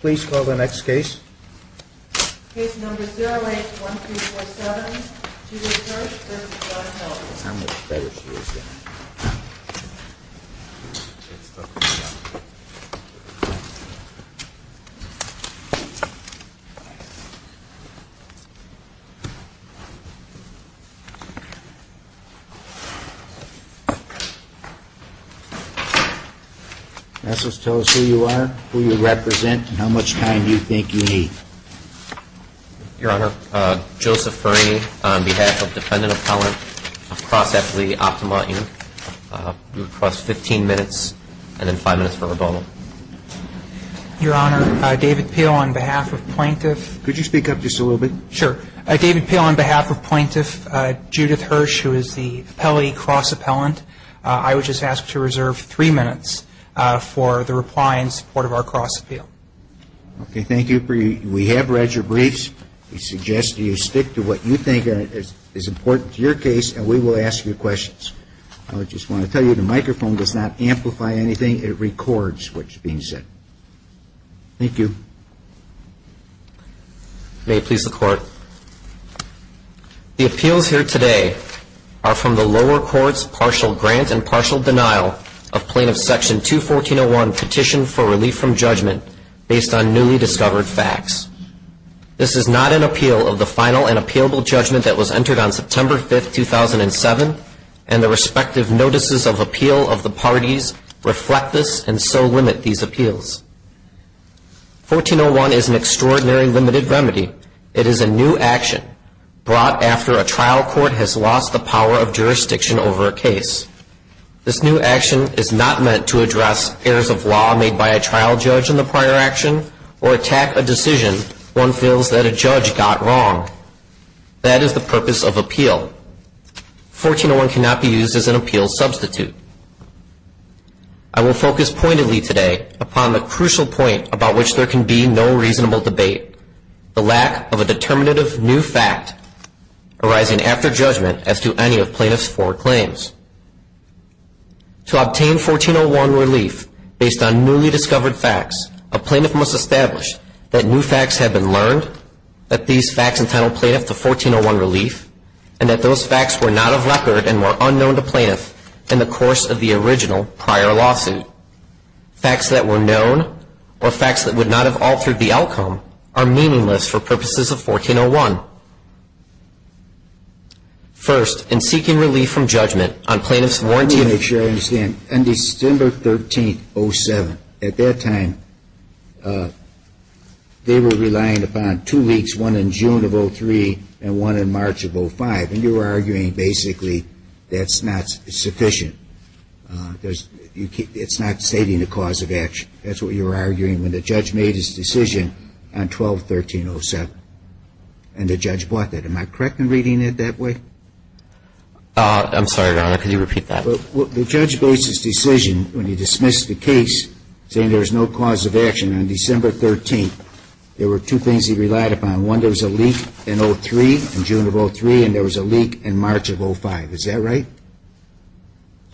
Please call the next case. Case number 08-1347, Judith Hirsch v. John Heldrich. How much better she is now? Let's talk about that. Tell us who you are, who you represent, and how much time you think you need. Your Honor, Joseph Ferney on behalf of Defendant Appellant across at the Optima Inn. You have 15 minutes and then 5 minutes for rebuttal. Your Honor, David Peel on behalf of Plaintiff. Could you speak up just a little bit? Sure. David Peel on behalf of Plaintiff Judith Hirsch, who is the appellee cross appellant. I would just ask to reserve 3 minutes for the reply in support of our cross appeal. Okay. Thank you. We have read your briefs. We suggest you stick to what you think is important to your case, and we will ask you questions. I would just want to tell you the microphone does not amplify anything. It records what's being said. Thank you. May it please the Court. The appeals here today are from the lower court's partial grant and partial denial of Plaintiff Section 214-01 Petition for Relief from Judgment based on newly discovered facts. This is not an appeal of the final and appealable judgment that was entered on September 5, 2007, and the respective notices of appeal of the parties reflect this and so limit these appeals. 14-01 is an extraordinary limited remedy. It is a new action brought after a trial court has lost the power of jurisdiction over a case. This new action is not meant to address errors of law made by a trial judge in the prior action or attack a decision one feels that a judge got wrong. That is the purpose of appeal. 14-01 cannot be used as an appeal substitute. I will focus pointedly today upon the crucial point about which there can be no reasonable debate, the lack of a determinative new fact arising after judgment as to any of plaintiff's foreclaims. To obtain 14-01 relief based on newly discovered facts, a plaintiff must establish that new facts have been learned, that these facts entitle plaintiff to 14-01 relief, and that those facts were not of record and were unknown to plaintiff in the course of the original prior lawsuit. Facts that were known or facts that would not have altered the outcome are meaningless for purposes of 14-01. First, in seeking relief from judgment, on plaintiff's warranty of ---- Let me make sure I understand. On December 13, 07, at that time, they were relying upon two weeks, one in June of 03 and one in March of 05. And you were arguing basically that's not sufficient. It's not stating the cause of action. That's what you were arguing when the judge made his decision on 12-13-07. And the judge bought that. Am I correct in reading it that way? I'm sorry, Your Honor. Could you repeat that? The judge made his decision when he dismissed the case saying there was no cause of action. On December 13, there were two things he relied upon. One, there was a leak in 03, in June of 03, and there was a leak in March of 05. Is that right?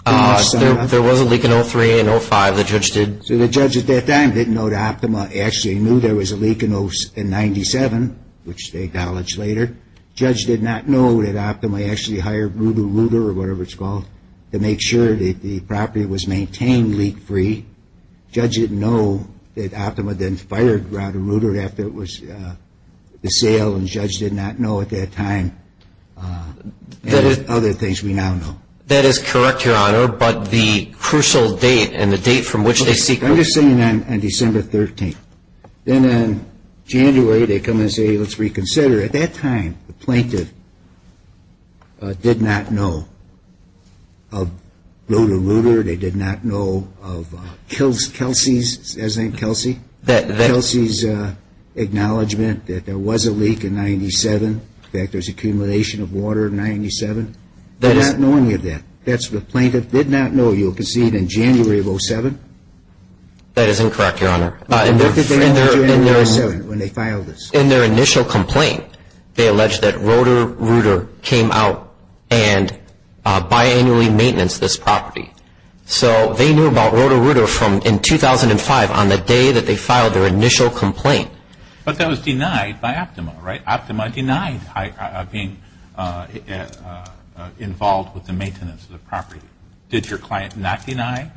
There was a leak in 03 and 05. The judge did ---- The judge did not know there was a leak in 97, which they acknowledged later. The judge did not know that Optima actually hired Ruder-Ruder, or whatever it's called, to make sure that the property was maintained leak-free. The judge didn't know that Optima then fired Roder-Ruder after it was for sale, and the judge did not know at that time. And there's other things we now know. That is correct, Your Honor, but the crucial date and the date from which they seek relief ---- I'm just saying on December 13. Then in January, they come and say, let's reconsider. At that time, the plaintiff did not know of Ruder-Ruder. They did not know of Kelsey's ---- Is that Kelsey? Kelsey's acknowledgement that there was a leak in 97. In fact, there's accumulation of water in 97. They're not knowing of that. That's what the plaintiff did not know. You'll concede in January of 07? That is incorrect, Your Honor. In their initial complaint, they alleged that Roder-Ruder came out and biannually maintenance this property. So they knew about Roder-Ruder from in 2005 on the day that they filed their initial complaint. But that was denied by Optima, right? Did your client not deny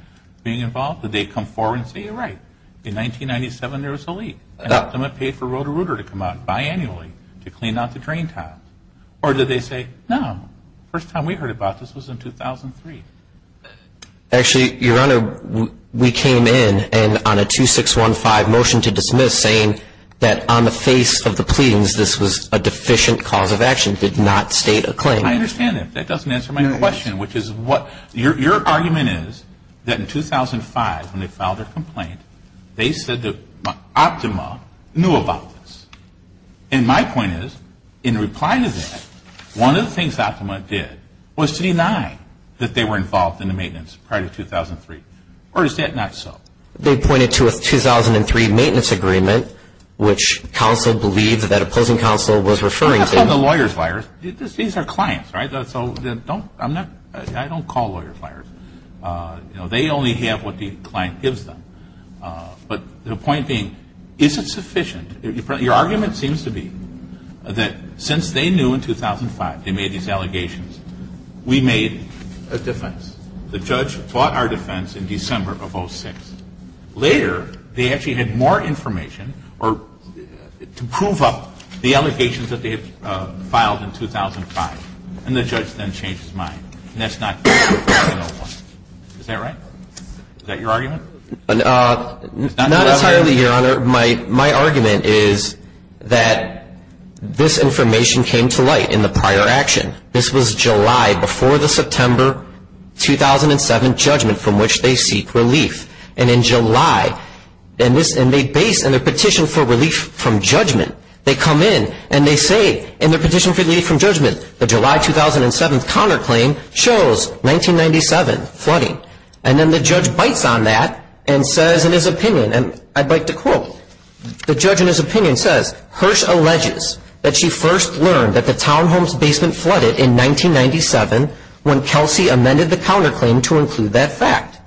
being involved? Did they come forward and say, you're right. In 1997, there was a leak. Optima paid for Roder-Ruder to come out biannually to clean out the drain tap. Or did they say, no, first time we heard about this was in 2003? Actually, Your Honor, we came in on a 2615 motion to dismiss saying that on the face of the pleadings, this was a deficient cause of action, did not state a claim. I understand that. That doesn't answer my question, which is what your argument is, that in 2005, when they filed their complaint, they said that Optima knew about this. And my point is, in reply to that, one of the things Optima did was to deny that they were involved in the maintenance prior to 2003. Or is that not so? They pointed to a 2003 maintenance agreement, which counsel believed that opposing counsel was referring to. These are clients, right? So I don't call lawyers liars. They only have what the client gives them. But the point being, is it sufficient? Your argument seems to be that since they knew in 2005 they made these allegations, we made a defense. The judge fought our defense in December of 2006. Later, they actually had more information to prove up the allegations that they had filed in 2005. And the judge then changed his mind. And that's not true. Is that right? Is that your argument? Not entirely, Your Honor. My argument is that this information came to light in the prior action. This was July before the September 2007 judgment from which they seek relief. And in July, in their petition for relief from judgment, they come in and they say, in their petition for relief from judgment, the July 2007 counterclaim shows 1997 flooding. And then the judge bites on that and says in his opinion, and I'd like to quote. The judge in his opinion says, Hirsch alleges that she first learned that the townhome's basement flooded in 1997 when Kelsey amended the counterclaim to include that fact.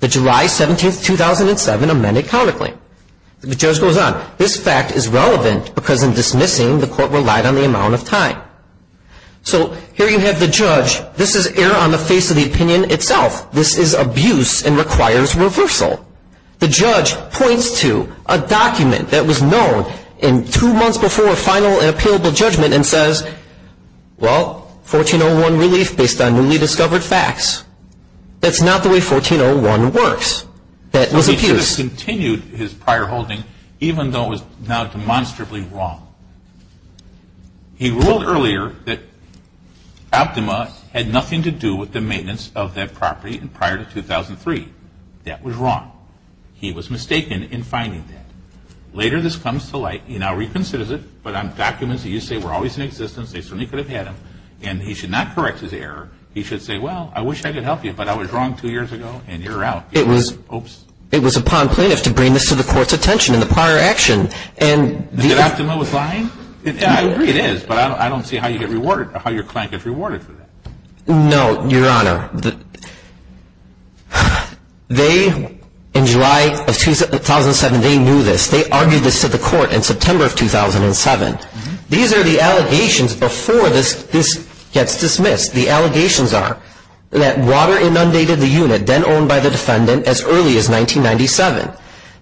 The July 17, 2007 amended counterclaim. The judge goes on. This fact is relevant because in dismissing, the court relied on the amount of time. So here you have the judge. This is error on the face of the opinion itself. This is abuse and requires reversal. The judge points to a document that was known in two months before final and appealable judgment and says, well, 1401 relief based on newly discovered facts. That's not the way 1401 works. That was abuse. He should have continued his prior holding even though it was now demonstrably wrong. He ruled earlier that Optima had nothing to do with the maintenance of that property prior to 2003. That was wrong. He was mistaken in finding that. Later this comes to light. He now reconsiders it. But on documents that you say were always in existence, they certainly could have had them. And he should not correct his error. He should say, well, I wish I could help you, but I was wrong two years ago, and you're out. Oops. It was upon plaintiffs to bring this to the court's attention in the prior action. And the – That Optima was lying? I agree it is, but I don't see how you get rewarded or how your client gets rewarded for that. No, Your Honor. They, in July of 2007, they knew this. They argued this to the court in September of 2007. These are the allegations before this gets dismissed. The allegations are that water inundated the unit then owned by the defendant as early as 1997,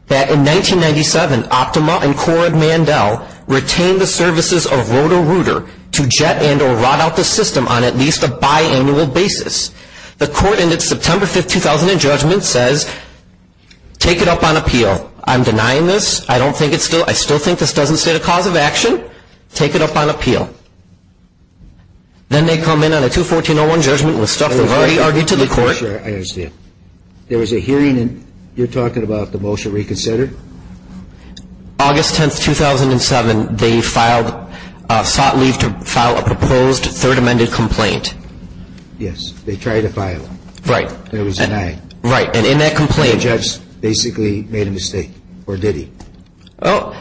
that in 1997 Optima and Corrid Mandel retained the services of Roto-Rooter to jet and or rot out the system on at least a biannual basis. The court in its September 5, 2000 judgment says, take it up on appeal. I'm denying this. I don't think it's still – I still think this doesn't state a cause of action. Take it up on appeal. Then they come in on a 214-01 judgment with stuff they've already argued to the court. I understand. There was a hearing, and you're talking about the motion reconsidered? August 10, 2007, they filed – sought leave to file a proposed third amended complaint. Yes. They tried to file it. Right. It was denied. Right. And in that complaint, the judge basically made a mistake. Or did he? Oh,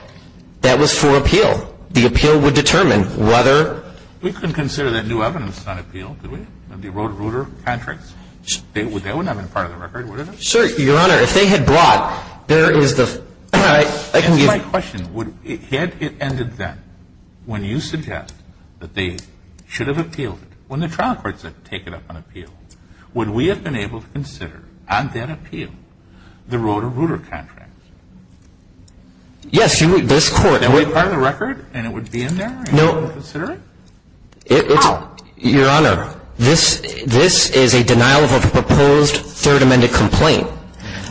that was for appeal. The appeal would determine whether – We couldn't consider that new evidence on appeal, could we? The Roto-Rooter contracts? That would not have been part of the record, would it have? Sir, Your Honor, if they had brought, there is the – That's my question. Had it ended then, when you suggest that they should have appealed it, when the trial court said take it up on appeal, would we have been able to consider on that appeal the Roto-Rooter contracts? Yes. This court – Would it be part of the record, and it would be in there? No. And we wouldn't consider it? Your Honor, this is a denial of a proposed third amended complaint.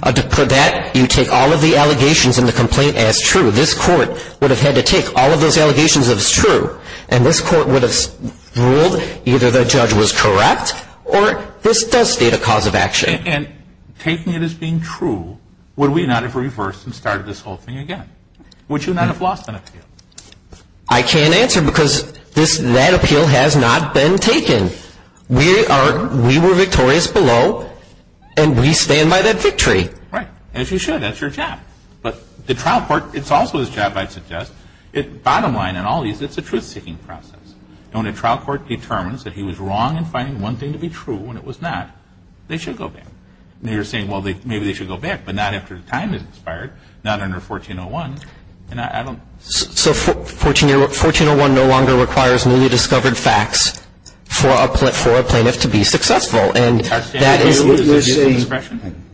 For that, you take all of the allegations in the complaint as true. This court would have had to take all of those allegations as true, and this court would have ruled either the judge was correct, or this does state a cause of action. And taking it as being true, would we not have reversed and started this whole thing again? Would you not have lost an appeal? I can't answer because that appeal has not been taken. We were victorious below, and we stand by that victory. Right. As you should. That's your job. But the trial court, it's also his job, I'd suggest. Bottom line in all of these, it's a truth-seeking process. When a trial court determines that he was wrong in finding one thing to be true when it was not, they should go back. You're saying, well, maybe they should go back, but not after the time has expired, not under 1401. So 1401 no longer requires newly discovered facts for a plaintiff to be successful, and that is an abusive discretion.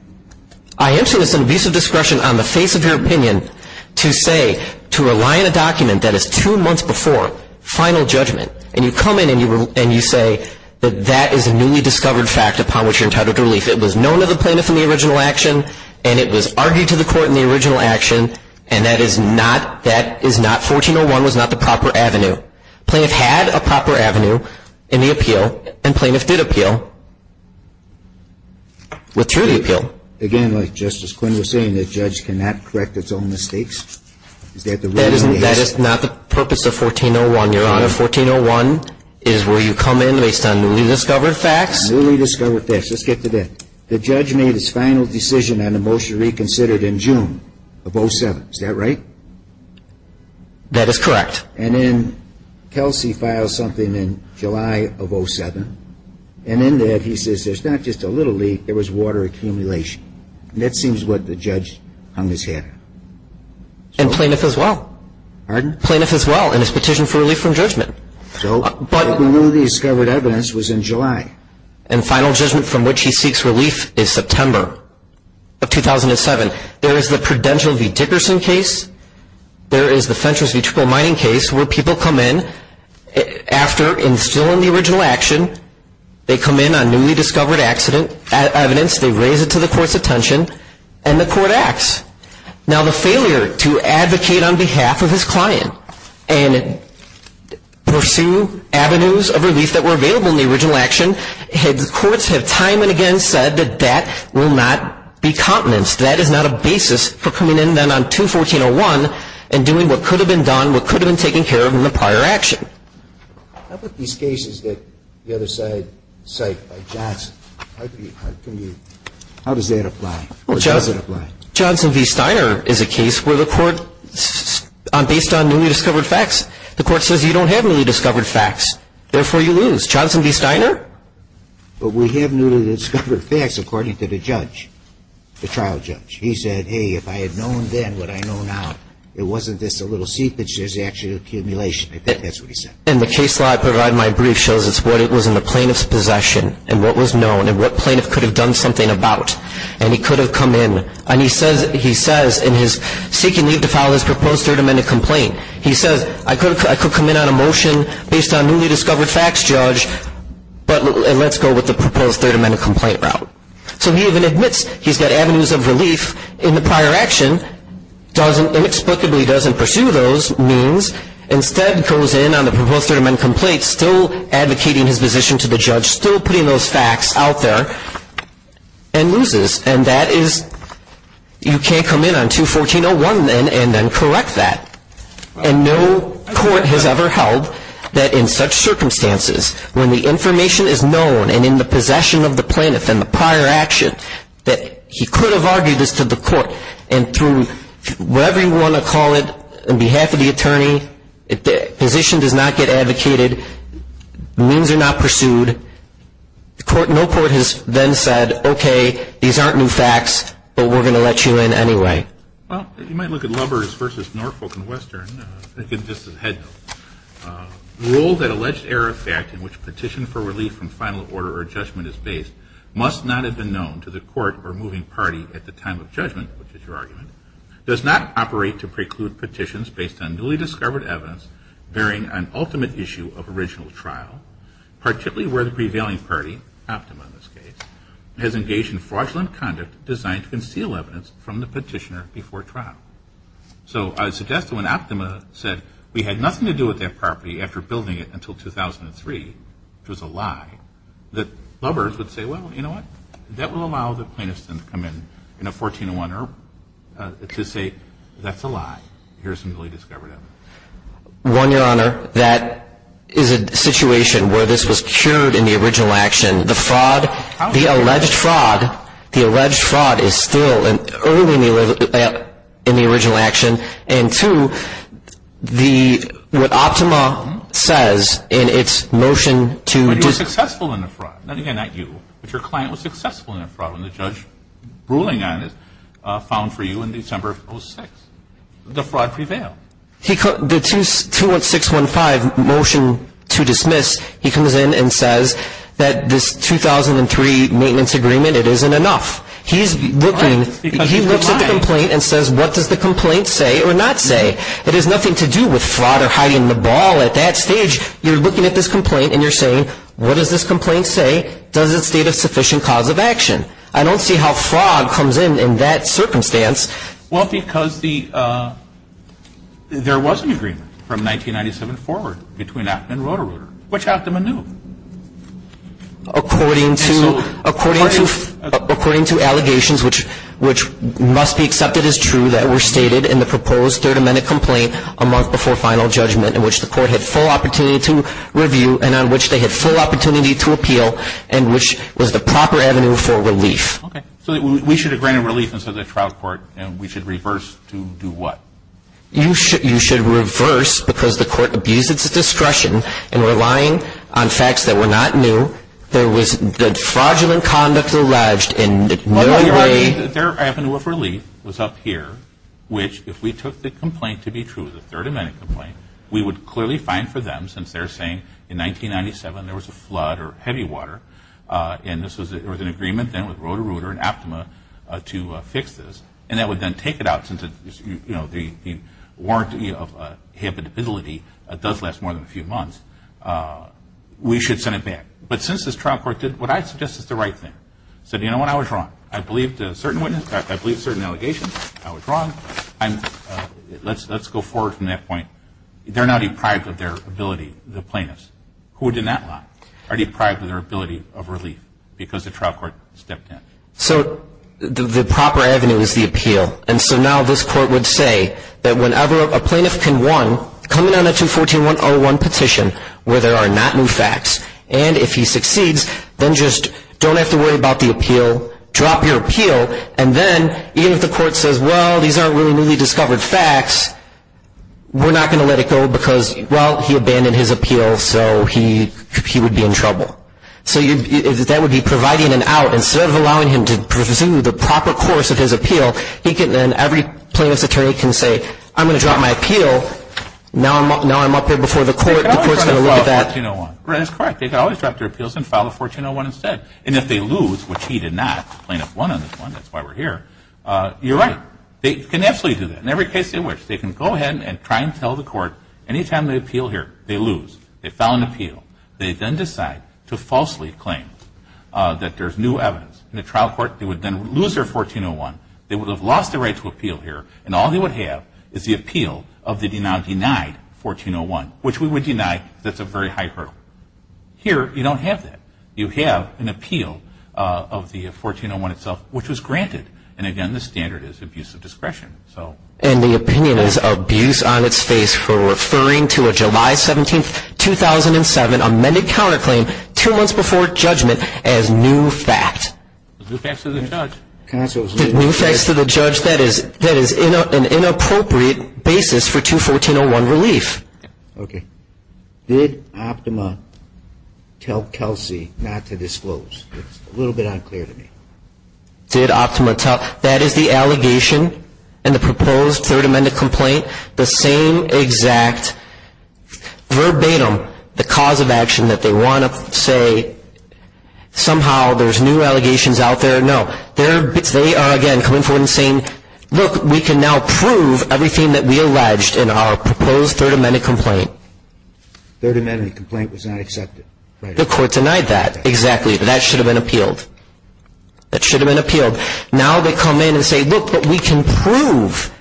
I am saying it's an abusive discretion on the face of your opinion to say, to rely on a document that is two months before final judgment, and you come in and you say that that is a newly discovered fact upon which you're entitled to relief. It was known to the plaintiff in the original action, and it was argued to the court in the original action, and that is not 1401, was not the proper avenue. Plaintiff had a proper avenue in the appeal, and plaintiff did appeal, withdrew the appeal. Again, like Justice Quinn was saying, the judge cannot correct its own mistakes. That is not the purpose of 1401, Your Honor. 1401 is where you come in based on newly discovered facts. Newly discovered facts. Let's get to that. The judge made his final decision on the motion reconsidered in June of 07. Is that right? That is correct. And then Kelsey filed something in July of 07, and in that he says there's not just a little leak, there was water accumulation. And that seems what the judge hung his hat on. And plaintiff as well. Pardon? Plaintiff as well in his petition for relief from judgment. But the newly discovered evidence was in July. And final judgment from which he seeks relief is September of 2007. There is the Prudential v. Dickerson case. There is the Fentress v. Triple Mining case where people come in after instilling the original action. They come in on newly discovered evidence. They raise it to the court's attention, and the court acts. Now, the failure to advocate on behalf of his client and pursue avenues of relief that were available in the original action, the courts have time and again said that that will not be continence. That is not a basis for coming in then on 214.01 and doing what could have been done, what could have been taken care of in the prior action. How about these cases that the other side cite, like Johnson? How does that apply? Well, Johnson v. Steiner is a case where the court, based on newly discovered facts, the court says you don't have newly discovered facts, therefore you lose. Johnson v. Steiner? But we have newly discovered facts according to the judge, the trial judge. He said, hey, if I had known then what I know now, it wasn't just a little seepage, there's actual accumulation. I think that's what he said. And the case law I provide in my brief shows it's what was in the plaintiff's possession and what was known and what plaintiff could have done something about. And he could have come in. And he says in his seeking leave to file his proposed Third Amendment complaint, he says I could come in on a motion based on newly discovered facts, judge, and let's go with the proposed Third Amendment complaint route. So he even admits he's got avenues of relief in the prior action, inexplicably doesn't pursue those means, instead goes in on the proposed Third Amendment complaint, still advocating his position to the judge, still putting those facts out there, and loses. And that is you can't come in on 214.01 and then correct that. And no court has ever held that in such circumstances, when the information is known and in the possession of the plaintiff and the prior action, that he could have argued this to the court. And through whatever you want to call it, on behalf of the attorney, if the position does not get advocated, means are not pursued, no court has then said, okay, these aren't new facts, but we're going to let you in anyway. Well, you might look at Lubbers v. Norfolk and Western. This is a head note. Rule that alleged error of fact in which petition for relief from final order or judgment is based must not have been known to the court or moving party at the time of judgment, which is your argument, does not operate to preclude petitions based on newly discovered evidence bearing an ultimate issue of original trial, particularly where the prevailing party, Optima in this case, has engaged in fraudulent conduct designed to conceal evidence from the petitioner before trial. So I would suggest that when Optima said, we had nothing to do with that property after building it until 2003, which was a lie, that Lubbers would say, well, you know what, that will allow the plaintiffs to come in in a 1401 to say, that's a lie. Here's some newly discovered evidence. One, Your Honor, that is a situation where this was cured in the original action. The fraud, the alleged fraud, the alleged fraud is still early in the original action. And two, the, what Optima says in its motion to. But you were successful in the fraud. Again, not you, but your client was successful in the fraud when the judge ruling on it found for you in December of 2006. The fraud prevailed. The 21615 motion to dismiss, he comes in and says that this 2003 maintenance agreement, it isn't enough. He's looking, he looks at the complaint and says, what does the complaint say or not say? It has nothing to do with fraud or hiding the ball at that stage. You're looking at this complaint and you're saying, what does this complaint say? Does it state a sufficient cause of action? I don't see how fraud comes in in that circumstance. Well, because the, there was an agreement from 1997 forward between Optima and Roto-Rooter, which Optima knew. According to, according to, according to allegations which, which must be accepted as true that were stated in the proposed third amendment complaint a month before final judgment in which the court had full opportunity to review and on which they had full opportunity to appeal and which was the proper avenue for relief. Okay. So we should have granted relief instead of the trial court and we should reverse to do what? You should, you should reverse because the court abused its discretion in relying on facts that were not new. There was, the fraudulent conduct alleged in no way. Well, you're arguing that their avenue of relief was up here, which if we took the complaint to be true, the third amendment complaint, we would clearly find for them since they're saying in 1997 there was a flood or heavy water and this was, there was an agreement then with Roto-Rooter and Optima to fix this and that would then take it out since, you know, the warranty of habitability does last more than a few months. We should send it back. But since this trial court did what I suggest is the right thing. Said, you know what, I was wrong. I believed a certain witness, I believed certain allegations, I was wrong. Let's go forward from that point. They're now deprived of their ability, the plaintiffs, who did not lie, are deprived of their ability of relief because the trial court stepped in. So the proper avenue is the appeal. And so now this court would say that whenever a plaintiff can one, come in on a 214-101 petition where there are not new facts, and if he succeeds then just don't have to worry about the appeal, drop your appeal, and then even if the court says, well, these aren't really newly discovered facts, we're not going to let it go because, well, he abandoned his appeal so he would be in trouble. So that would be providing an out. Instead of allowing him to pursue the proper course of his appeal, he can then, every plaintiff's attorney can say, I'm going to drop my appeal, now I'm up here before the court, the court's going to look at that. They can always drop their appeals and file a 1401 instead. And if they lose, which he did not, plaintiff won on this one, that's why we're here, you're right, they can absolutely do that. In every case they wish. They can go ahead and try and tell the court any time they appeal here, they lose. They file an appeal. They then decide to falsely claim that there's new evidence in the trial court. They would then lose their 1401. They would have lost the right to appeal here, and all they would have is the appeal of the now denied 1401, which we would deny because that's a very high hurdle. Here you don't have that. You have an appeal of the 1401 itself, which was granted. And, again, the standard is abuse of discretion. And the opinion is abuse on its face for referring to a July 17, 2007, amended counterclaim two months before judgment as new fact. New facts to the judge. New facts to the judge. That is an inappropriate basis for 214-01 relief. Okay. Did Optima tell Kelsey not to disclose? It's a little bit unclear to me. Did Optima tell? That is the allegation in the proposed Third Amendment complaint, the same exact verbatim the cause of action that they want to say somehow there's new allegations out there? No. They are, again, coming forward and saying, look, we can now prove everything that we alleged in our proposed Third Amendment complaint. Third Amendment complaint was not accepted. The court denied that. Exactly. That should have been appealed. That should have been appealed. Now they come in and say, look, but we can prove.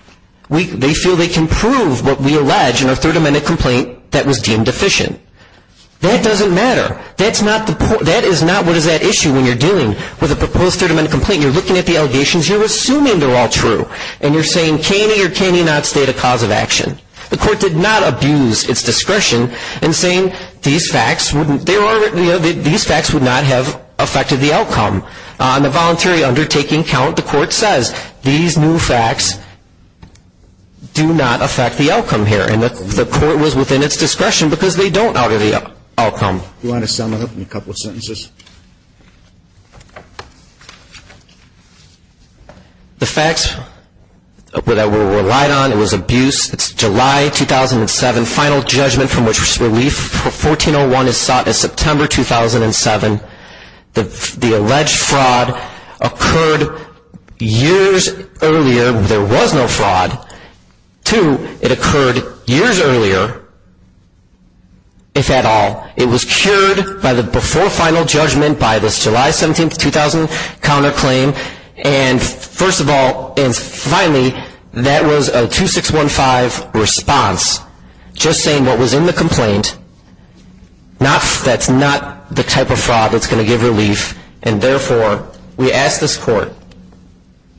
They feel they can prove what we allege in our Third Amendment complaint that was deemed deficient. That doesn't matter. That is not what is at issue when you're dealing with a proposed Third Amendment complaint. You're looking at the allegations. You're assuming they're all true. And you're saying, can he or can he not state a cause of action? The court did not abuse its discretion in saying these facts would not have affected the outcome. On the voluntary undertaking count, the court says these new facts do not affect the outcome here. And the court was within its discretion because they don't alter the outcome. Do you want to sum it up in a couple of sentences? The facts that were relied on, it was abuse. It's July 2007. Final judgment from which relief for 1401 is sought is September 2007. The alleged fraud occurred years earlier. There was no fraud. Two, it occurred years earlier, if at all. It was cured by the before final judgment by this July 17, 2000, counterclaim. And, first of all, and finally, that was a 2615 response, just saying what was in the complaint. That's not the type of fraud that's going to give relief. And, therefore, we ask this Court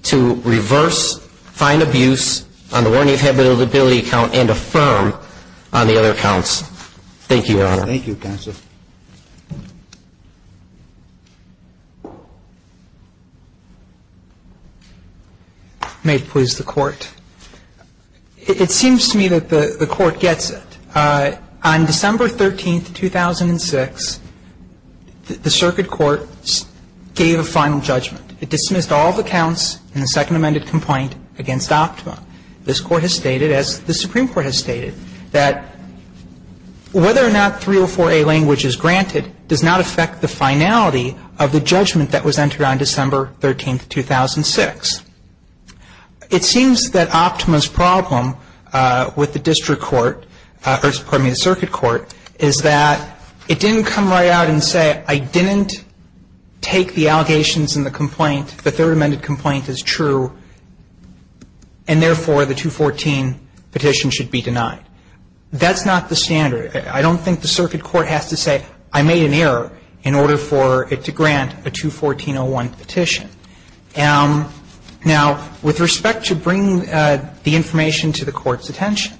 to reverse fine abuse on the warning of habitability count and affirm on the other counts. Thank you, Your Honor. Thank you, Counsel. May it please the Court. It seems to me that the Court gets it. On December 13, 2006, the circuit court gave a final judgment. It dismissed all the counts in the second amended complaint against Optima. This Court has stated, as the Supreme Court has stated, that whether or not 304A language is granted does not affect the finality of the judgment that was entered on December 13, 2006. It seems that Optima's problem with the district court or, pardon me, the circuit court is that it didn't come right out and say I didn't take the allegations in the complaint, the third amended complaint is true, and, therefore, the 214 petition should be denied. That's not the standard. I don't think the circuit court has to say I made an error in order for it to grant a 214-01 petition. Now, with respect to bringing the information to the Court's attention,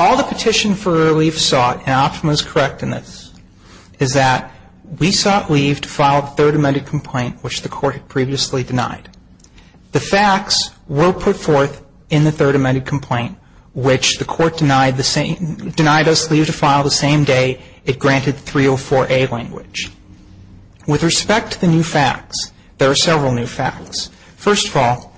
all the petition for relief sought, and Optima is correct in this, is that we sought leave to file the third amended complaint, which the Court had previously denied. The facts were put forth in the third amended complaint, which the Court denied us leave to file the same day it granted 304A language. With respect to the new facts, there are several new facts. First of all,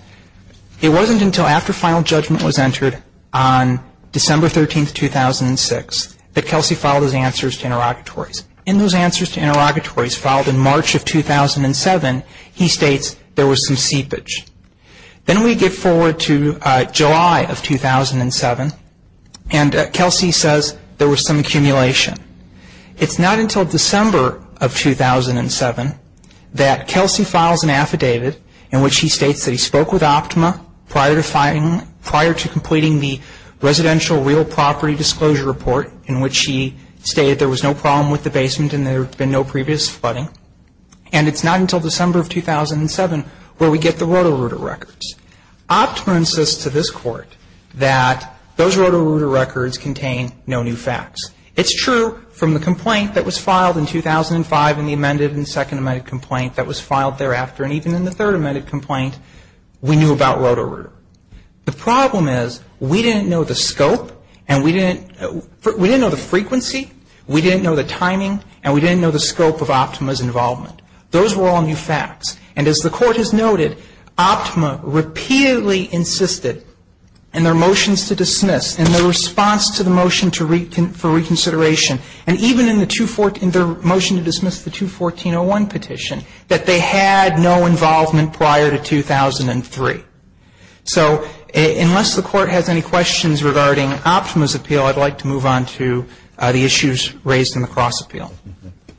it wasn't until after final judgment was entered on December 13, 2006, that Kelsey filed his answers to interrogatories. In those answers to interrogatories filed in March of 2007, he states there was some seepage. Then we get forward to July of 2007, and Kelsey says there was some accumulation. It's not until December of 2007 that Kelsey files an affidavit in which he states that he spoke with Optima prior to completing the residential real property disclosure report, in which he stated there was no problem with the basement and there had been no previous flooding. And it's not until December of 2007 where we get the Roto-Rooter records. Optima insists to this Court that those Roto-Rooter records contain no new facts. It's true from the complaint that was filed in 2005 and the amended and second amended complaint that was filed thereafter, and even in the third amended complaint, we knew about Roto-Rooter. The problem is we didn't know the scope and we didn't know the frequency, we didn't know the timing, and we didn't know the scope of Optima's involvement. Those were all new facts. And as the Court has noted, Optima repeatedly insisted in their motions to dismiss, in their response to the motion for reconsideration, and even in their motion to dismiss the 214-01 petition, that they had no involvement prior to 2003. So unless the Court has any questions regarding Optima's appeal, I'd like to move on to the issues raised in the cross appeal.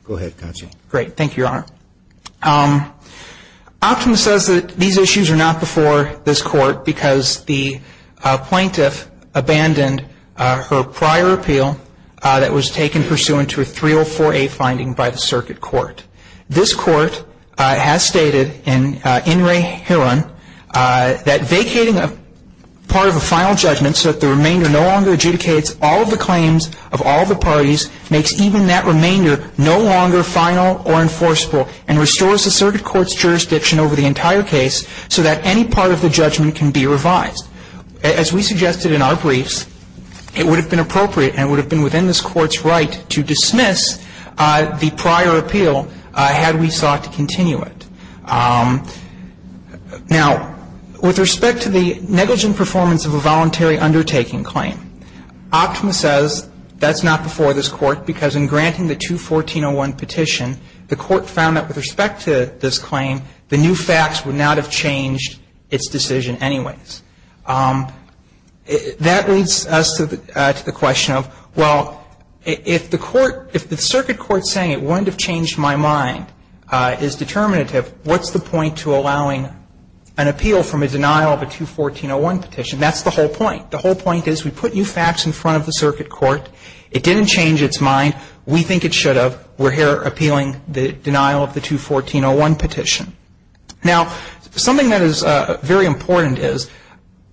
Go ahead, counsel. Great. Thank you, Your Honor. Optima says that these issues are not before this Court because the plaintiff abandoned her prior appeal that was taken pursuant to a 304A finding by the Circuit Court. This Court has stated in In Re Hiron that vacating a part of a final judgment so that the remainder no longer adjudicates all of the claims of all of the parties makes even that and restores the Circuit Court's jurisdiction over the entire case so that any part of the judgment can be revised. As we suggested in our briefs, it would have been appropriate and would have been within this Court's right to dismiss the prior appeal had we sought to continue it. Now, with respect to the negligent performance of a voluntary undertaking claim, Optima says that's not before this Court because in granting the 214-01 petition, the Court found that with respect to this claim, the new facts would not have changed its decision anyways. That leads us to the question of, well, if the Court, if the Circuit Court is saying it wouldn't have changed my mind, is determinative, what's the point to allowing an appeal from a denial of a 214-01 petition? That's the whole point. The whole point is we put new facts in front of the Circuit Court. It didn't change its mind. We think it should have. We're here appealing the denial of the 214-01 petition. Now, something that is very important is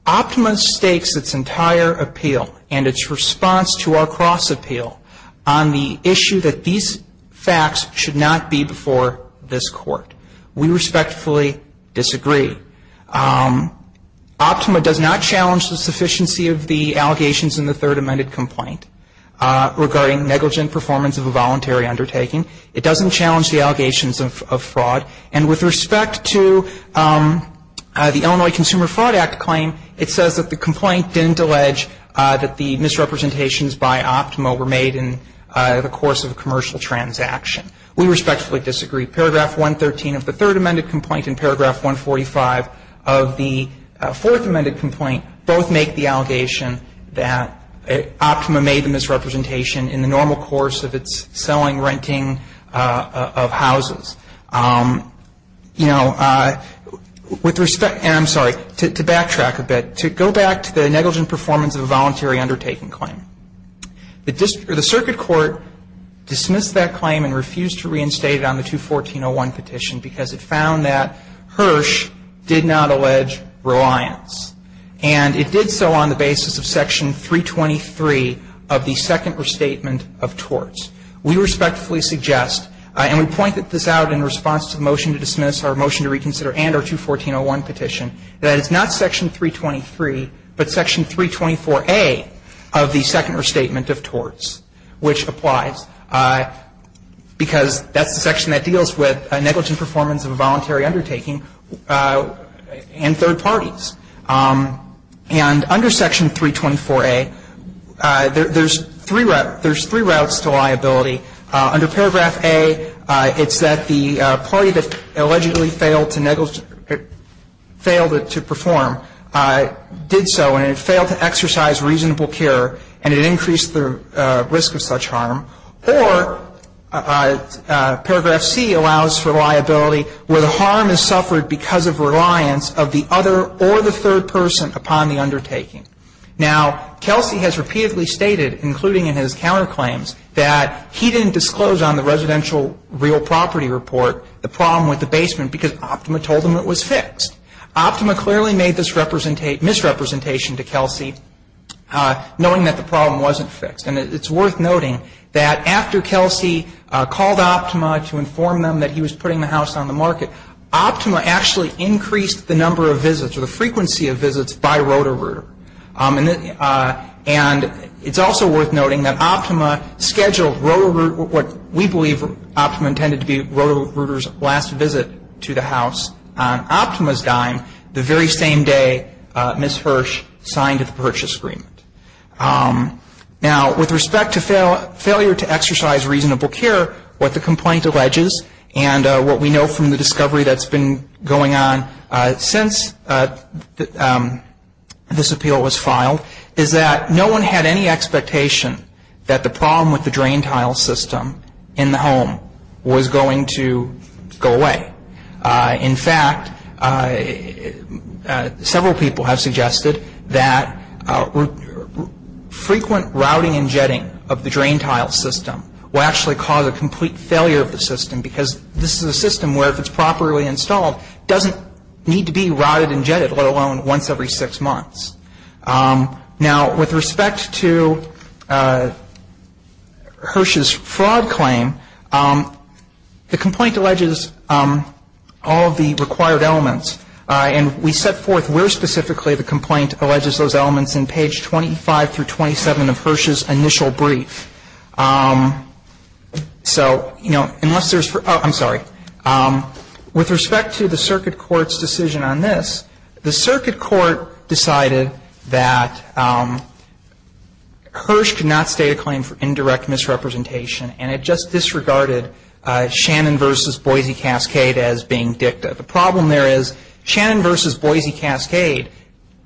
Optima stakes its entire appeal and its response to our cross-appeal on the issue that these facts should not be before this Court. We respectfully disagree. Optima does not challenge the sufficiency of the allegations in the third amended complaint regarding negligent performance of a voluntary undertaking. It doesn't challenge the allegations of fraud. And with respect to the Illinois Consumer Fraud Act claim, it says that the complaint didn't allege that the misrepresentations by Optima were made in the course of a commercial transaction. We respectfully disagree. Paragraph 113 of the third amended complaint and paragraph 145 of the fourth amended complaint both make the allegation that Optima made the misrepresentation in the normal course of its selling, renting of houses. You know, with respect to backtrack a bit, to go back to the negligent performance of a voluntary undertaking claim. The Circuit Court dismissed that claim and refused to reinstate it on the 214-01 petition because it found that Hirsch did not allege reliance. And it did so on the basis of section 323 of the second restatement of torts. We respectfully suggest, and we pointed this out in response to the motion to dismiss our motion to reconsider and our 214-01 petition, that it's not section 323, but section 324A of the second restatement of torts, which applies because that's the section that deals with negligent performance of a voluntary undertaking and third parties. And under section 324A, there's three routes to liability. Under paragraph A, it's that the party that allegedly failed to perform did so and it failed to exercise reasonable care and it increased the risk of such harm. Or paragraph C allows for liability where the harm is suffered because of reliance of the other or the third person upon the undertaking. Now, Kelsey has repeatedly stated, including in his counterclaims, that he didn't disclose on the residential real property report the problem with the basement because Optima told him it was fixed. Optima clearly made this misrepresentation to Kelsey knowing that the problem wasn't fixed. And it's worth noting that after Kelsey called Optima to inform them that he was putting the house on the market, Optima actually increased the number of visits or the frequency of visits by Roto-Rooter. And it's also worth noting that Optima scheduled what we believe Optima intended to be Roto-Rooter's last visit to the house on Optima's dime the very same day Ms. Hirsch signed the purchase agreement. Now, with respect to failure to exercise reasonable care, what the complaint alleges and what we know from the discovery that's been going on since this appeal was filed is that no one had any expectation that the problem with the drain tile system in the home was going to go away. In fact, several people have suggested that frequent routing and jetting of the drain tile system will actually cause a complete failure of the system because this is a system where if it's properly installed, it doesn't need to be routed and jetted, let alone once every six months. Now, with respect to Hirsch's fraud claim, the complaint alleges that the complaint alleges all of the required elements, and we set forth where specifically the complaint alleges those elements in page 25 through 27 of Hirsch's initial brief. So, you know, unless there's for oh, I'm sorry. With respect to the circuit court's decision on this, the circuit court decided that Hirsch could not state a claim for indirect misrepresentation and it just disregarded Shannon v. Boise Cascade as being dicta. The problem there is Shannon v. Boise Cascade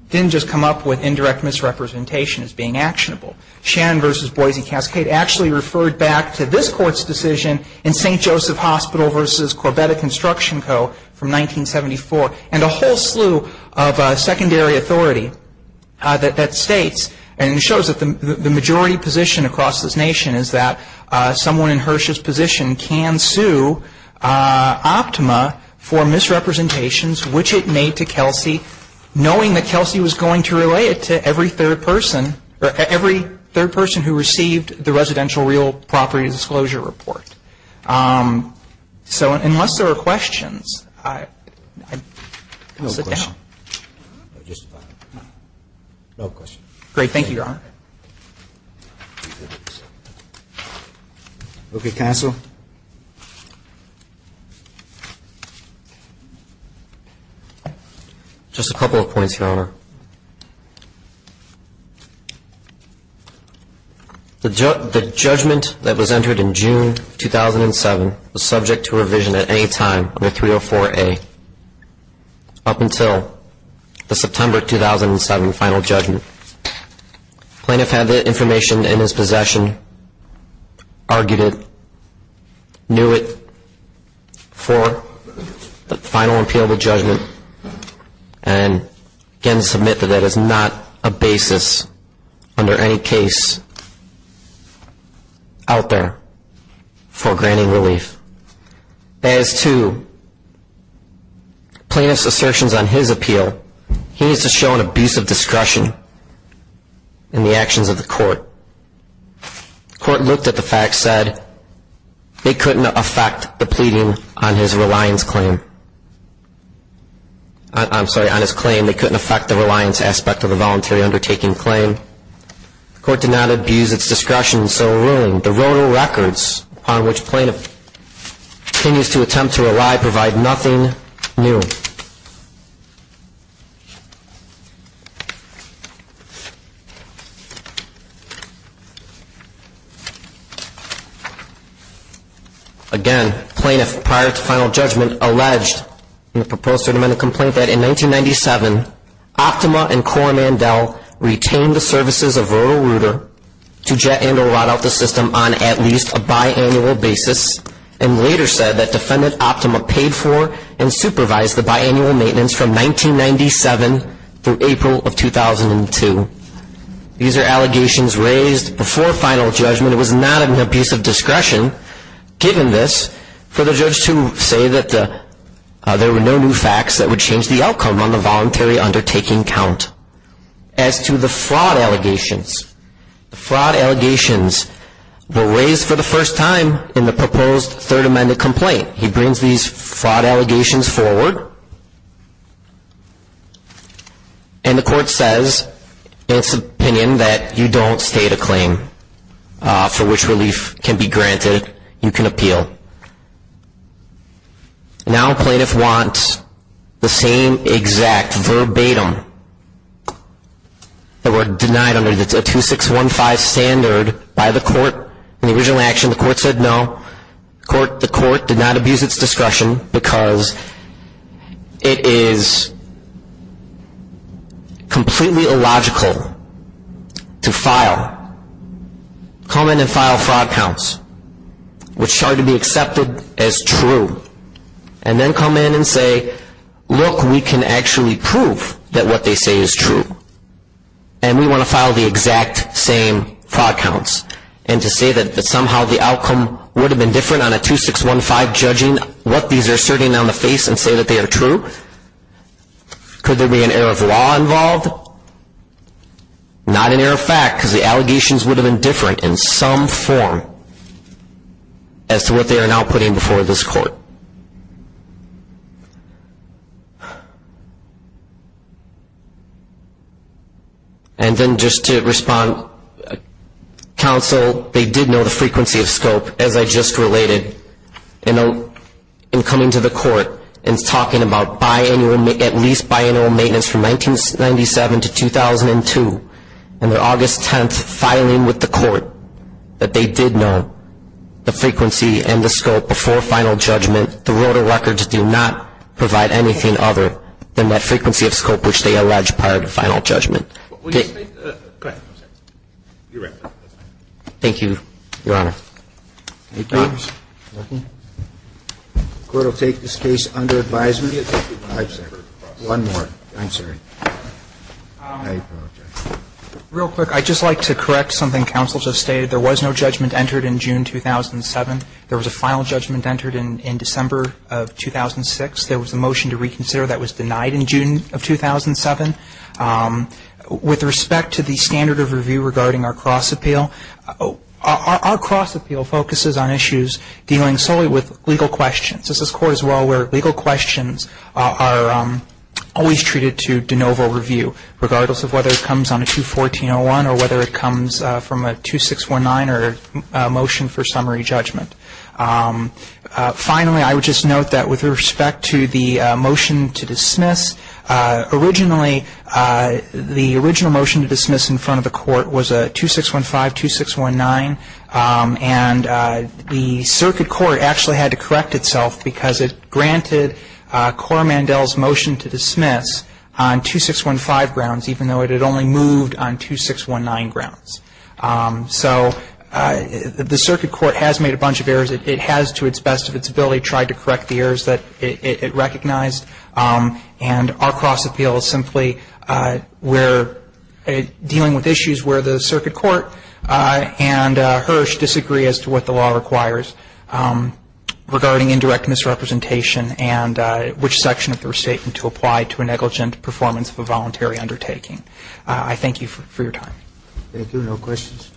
didn't just come up with indirect misrepresentation as being actionable. Shannon v. Boise Cascade actually referred back to this court's decision in St. Joseph Hospital v. Corbetta Construction Co. from 1974. And a whole slew of secondary authority that states and shows that the majority position across this nation is that someone in Hirsch's position can sue Optima for misrepresentations, which it made to Kelsey, knowing that Kelsey was going to relay it to every third person or every third person who received the residential real property disclosure report. So unless there are questions, I'll sit down. No questions. Great. Thank you, Your Honor. Okay, Counsel. Just a couple of points, Your Honor. The judgment that was entered in June 2007 was subject to revision at any time under 304A, up until the September 2007 final judgment. Plaintiff had the information in his possession, argued it, knew it for the final appeal to judgment, and again submit that that is not a basis under any case out there for granting relief. As to plaintiff's assertions on his appeal, he needs to show an abuse of discretion. In the actions of the court, the court looked at the facts, said they couldn't affect the pleading on his reliance claim. I'm sorry, on his claim, they couldn't affect the reliance aspect of the voluntary undertaking claim. The court did not abuse its discretion in civil ruling. The roto records on which plaintiff continues to attempt to rely provide nothing new. Again, plaintiff, prior to final judgment, alleged in the proposed third amendment complaint that in 1997, Optima and Corr-Mandel retained the services of Roto-Rooter to jet and or out the system on at least a biannual basis, and later said that defendant Optima paid for and supervised the biannual maintenance from 1997 through April of 2002. These are allegations raised before final judgment. It was not an abuse of discretion, given this, for the judge to say that there were no new facts that would change the outcome on the voluntary undertaking count. As to the fraud allegations, the fraud allegations were raised for the first time in the proposed third amendment complaint. He brings these fraud allegations forward, and the court says in its opinion that you don't state a claim for which relief can be granted. You can appeal. Now plaintiff wants the same exact verbatim that were denied under the 2615 standard by the court. In the original action, the court said no. The court did not abuse its discretion because it is completely illogical to file, come in and file fraud counts, which are to be accepted as true. And then come in and say, look, we can actually prove that what they say is true. And we want to file the exact same fraud counts. And to say that somehow the outcome would have been different on a 2615 judging, what these are asserting on the face and say that they are true? Could there be an error of law involved? Not an error of fact, because the allegations would have been different in some form as to what they are now putting before this court. And then just to respond, counsel, they did know the frequency of scope, as I just related, in coming to the court and talking about biannual, at least biannual maintenance from 1997 to 2002, and their August 10th filing with the court, that they did know the frequency and the scope before final judgment. The Rota records do not provide anything other than that frequency of scope which they allege prior to final judgment. Go ahead. Thank you, Your Honor. The court will take this case under advisement. One more, I'm sorry. Real quick, I'd just like to correct something counsel just stated. There was no judgment entered in June 2007. There was a final judgment entered in December of 2006. There was a motion to reconsider that was denied in June of 2007. With respect to the standard of review regarding our cross appeal, our cross appeal focuses on issues dealing solely with legal questions. This is court as well where legal questions are always treated to de novo review, regardless of whether it comes on a 214-01 or whether it comes from a 2619 or a motion for summary judgment. Finally, I would just note that with respect to the motion to dismiss, originally the original motion to dismiss in front of the court was a 2615-2619, and the circuit court actually had to correct itself because it granted Cora Mandel's motion to dismiss on 2615 grounds, even though it had only moved on 2619 grounds. So the circuit court has made a bunch of errors. It has, to its best of its ability, tried to correct the errors that it recognized. And our cross appeal is simply dealing with issues where the circuit court and Hirsch disagree as to what the law requires regarding indirect misrepresentation and which section of the restatement to apply to a negligent performance of a voluntary undertaking. I thank you for your time. Thank you. No questions.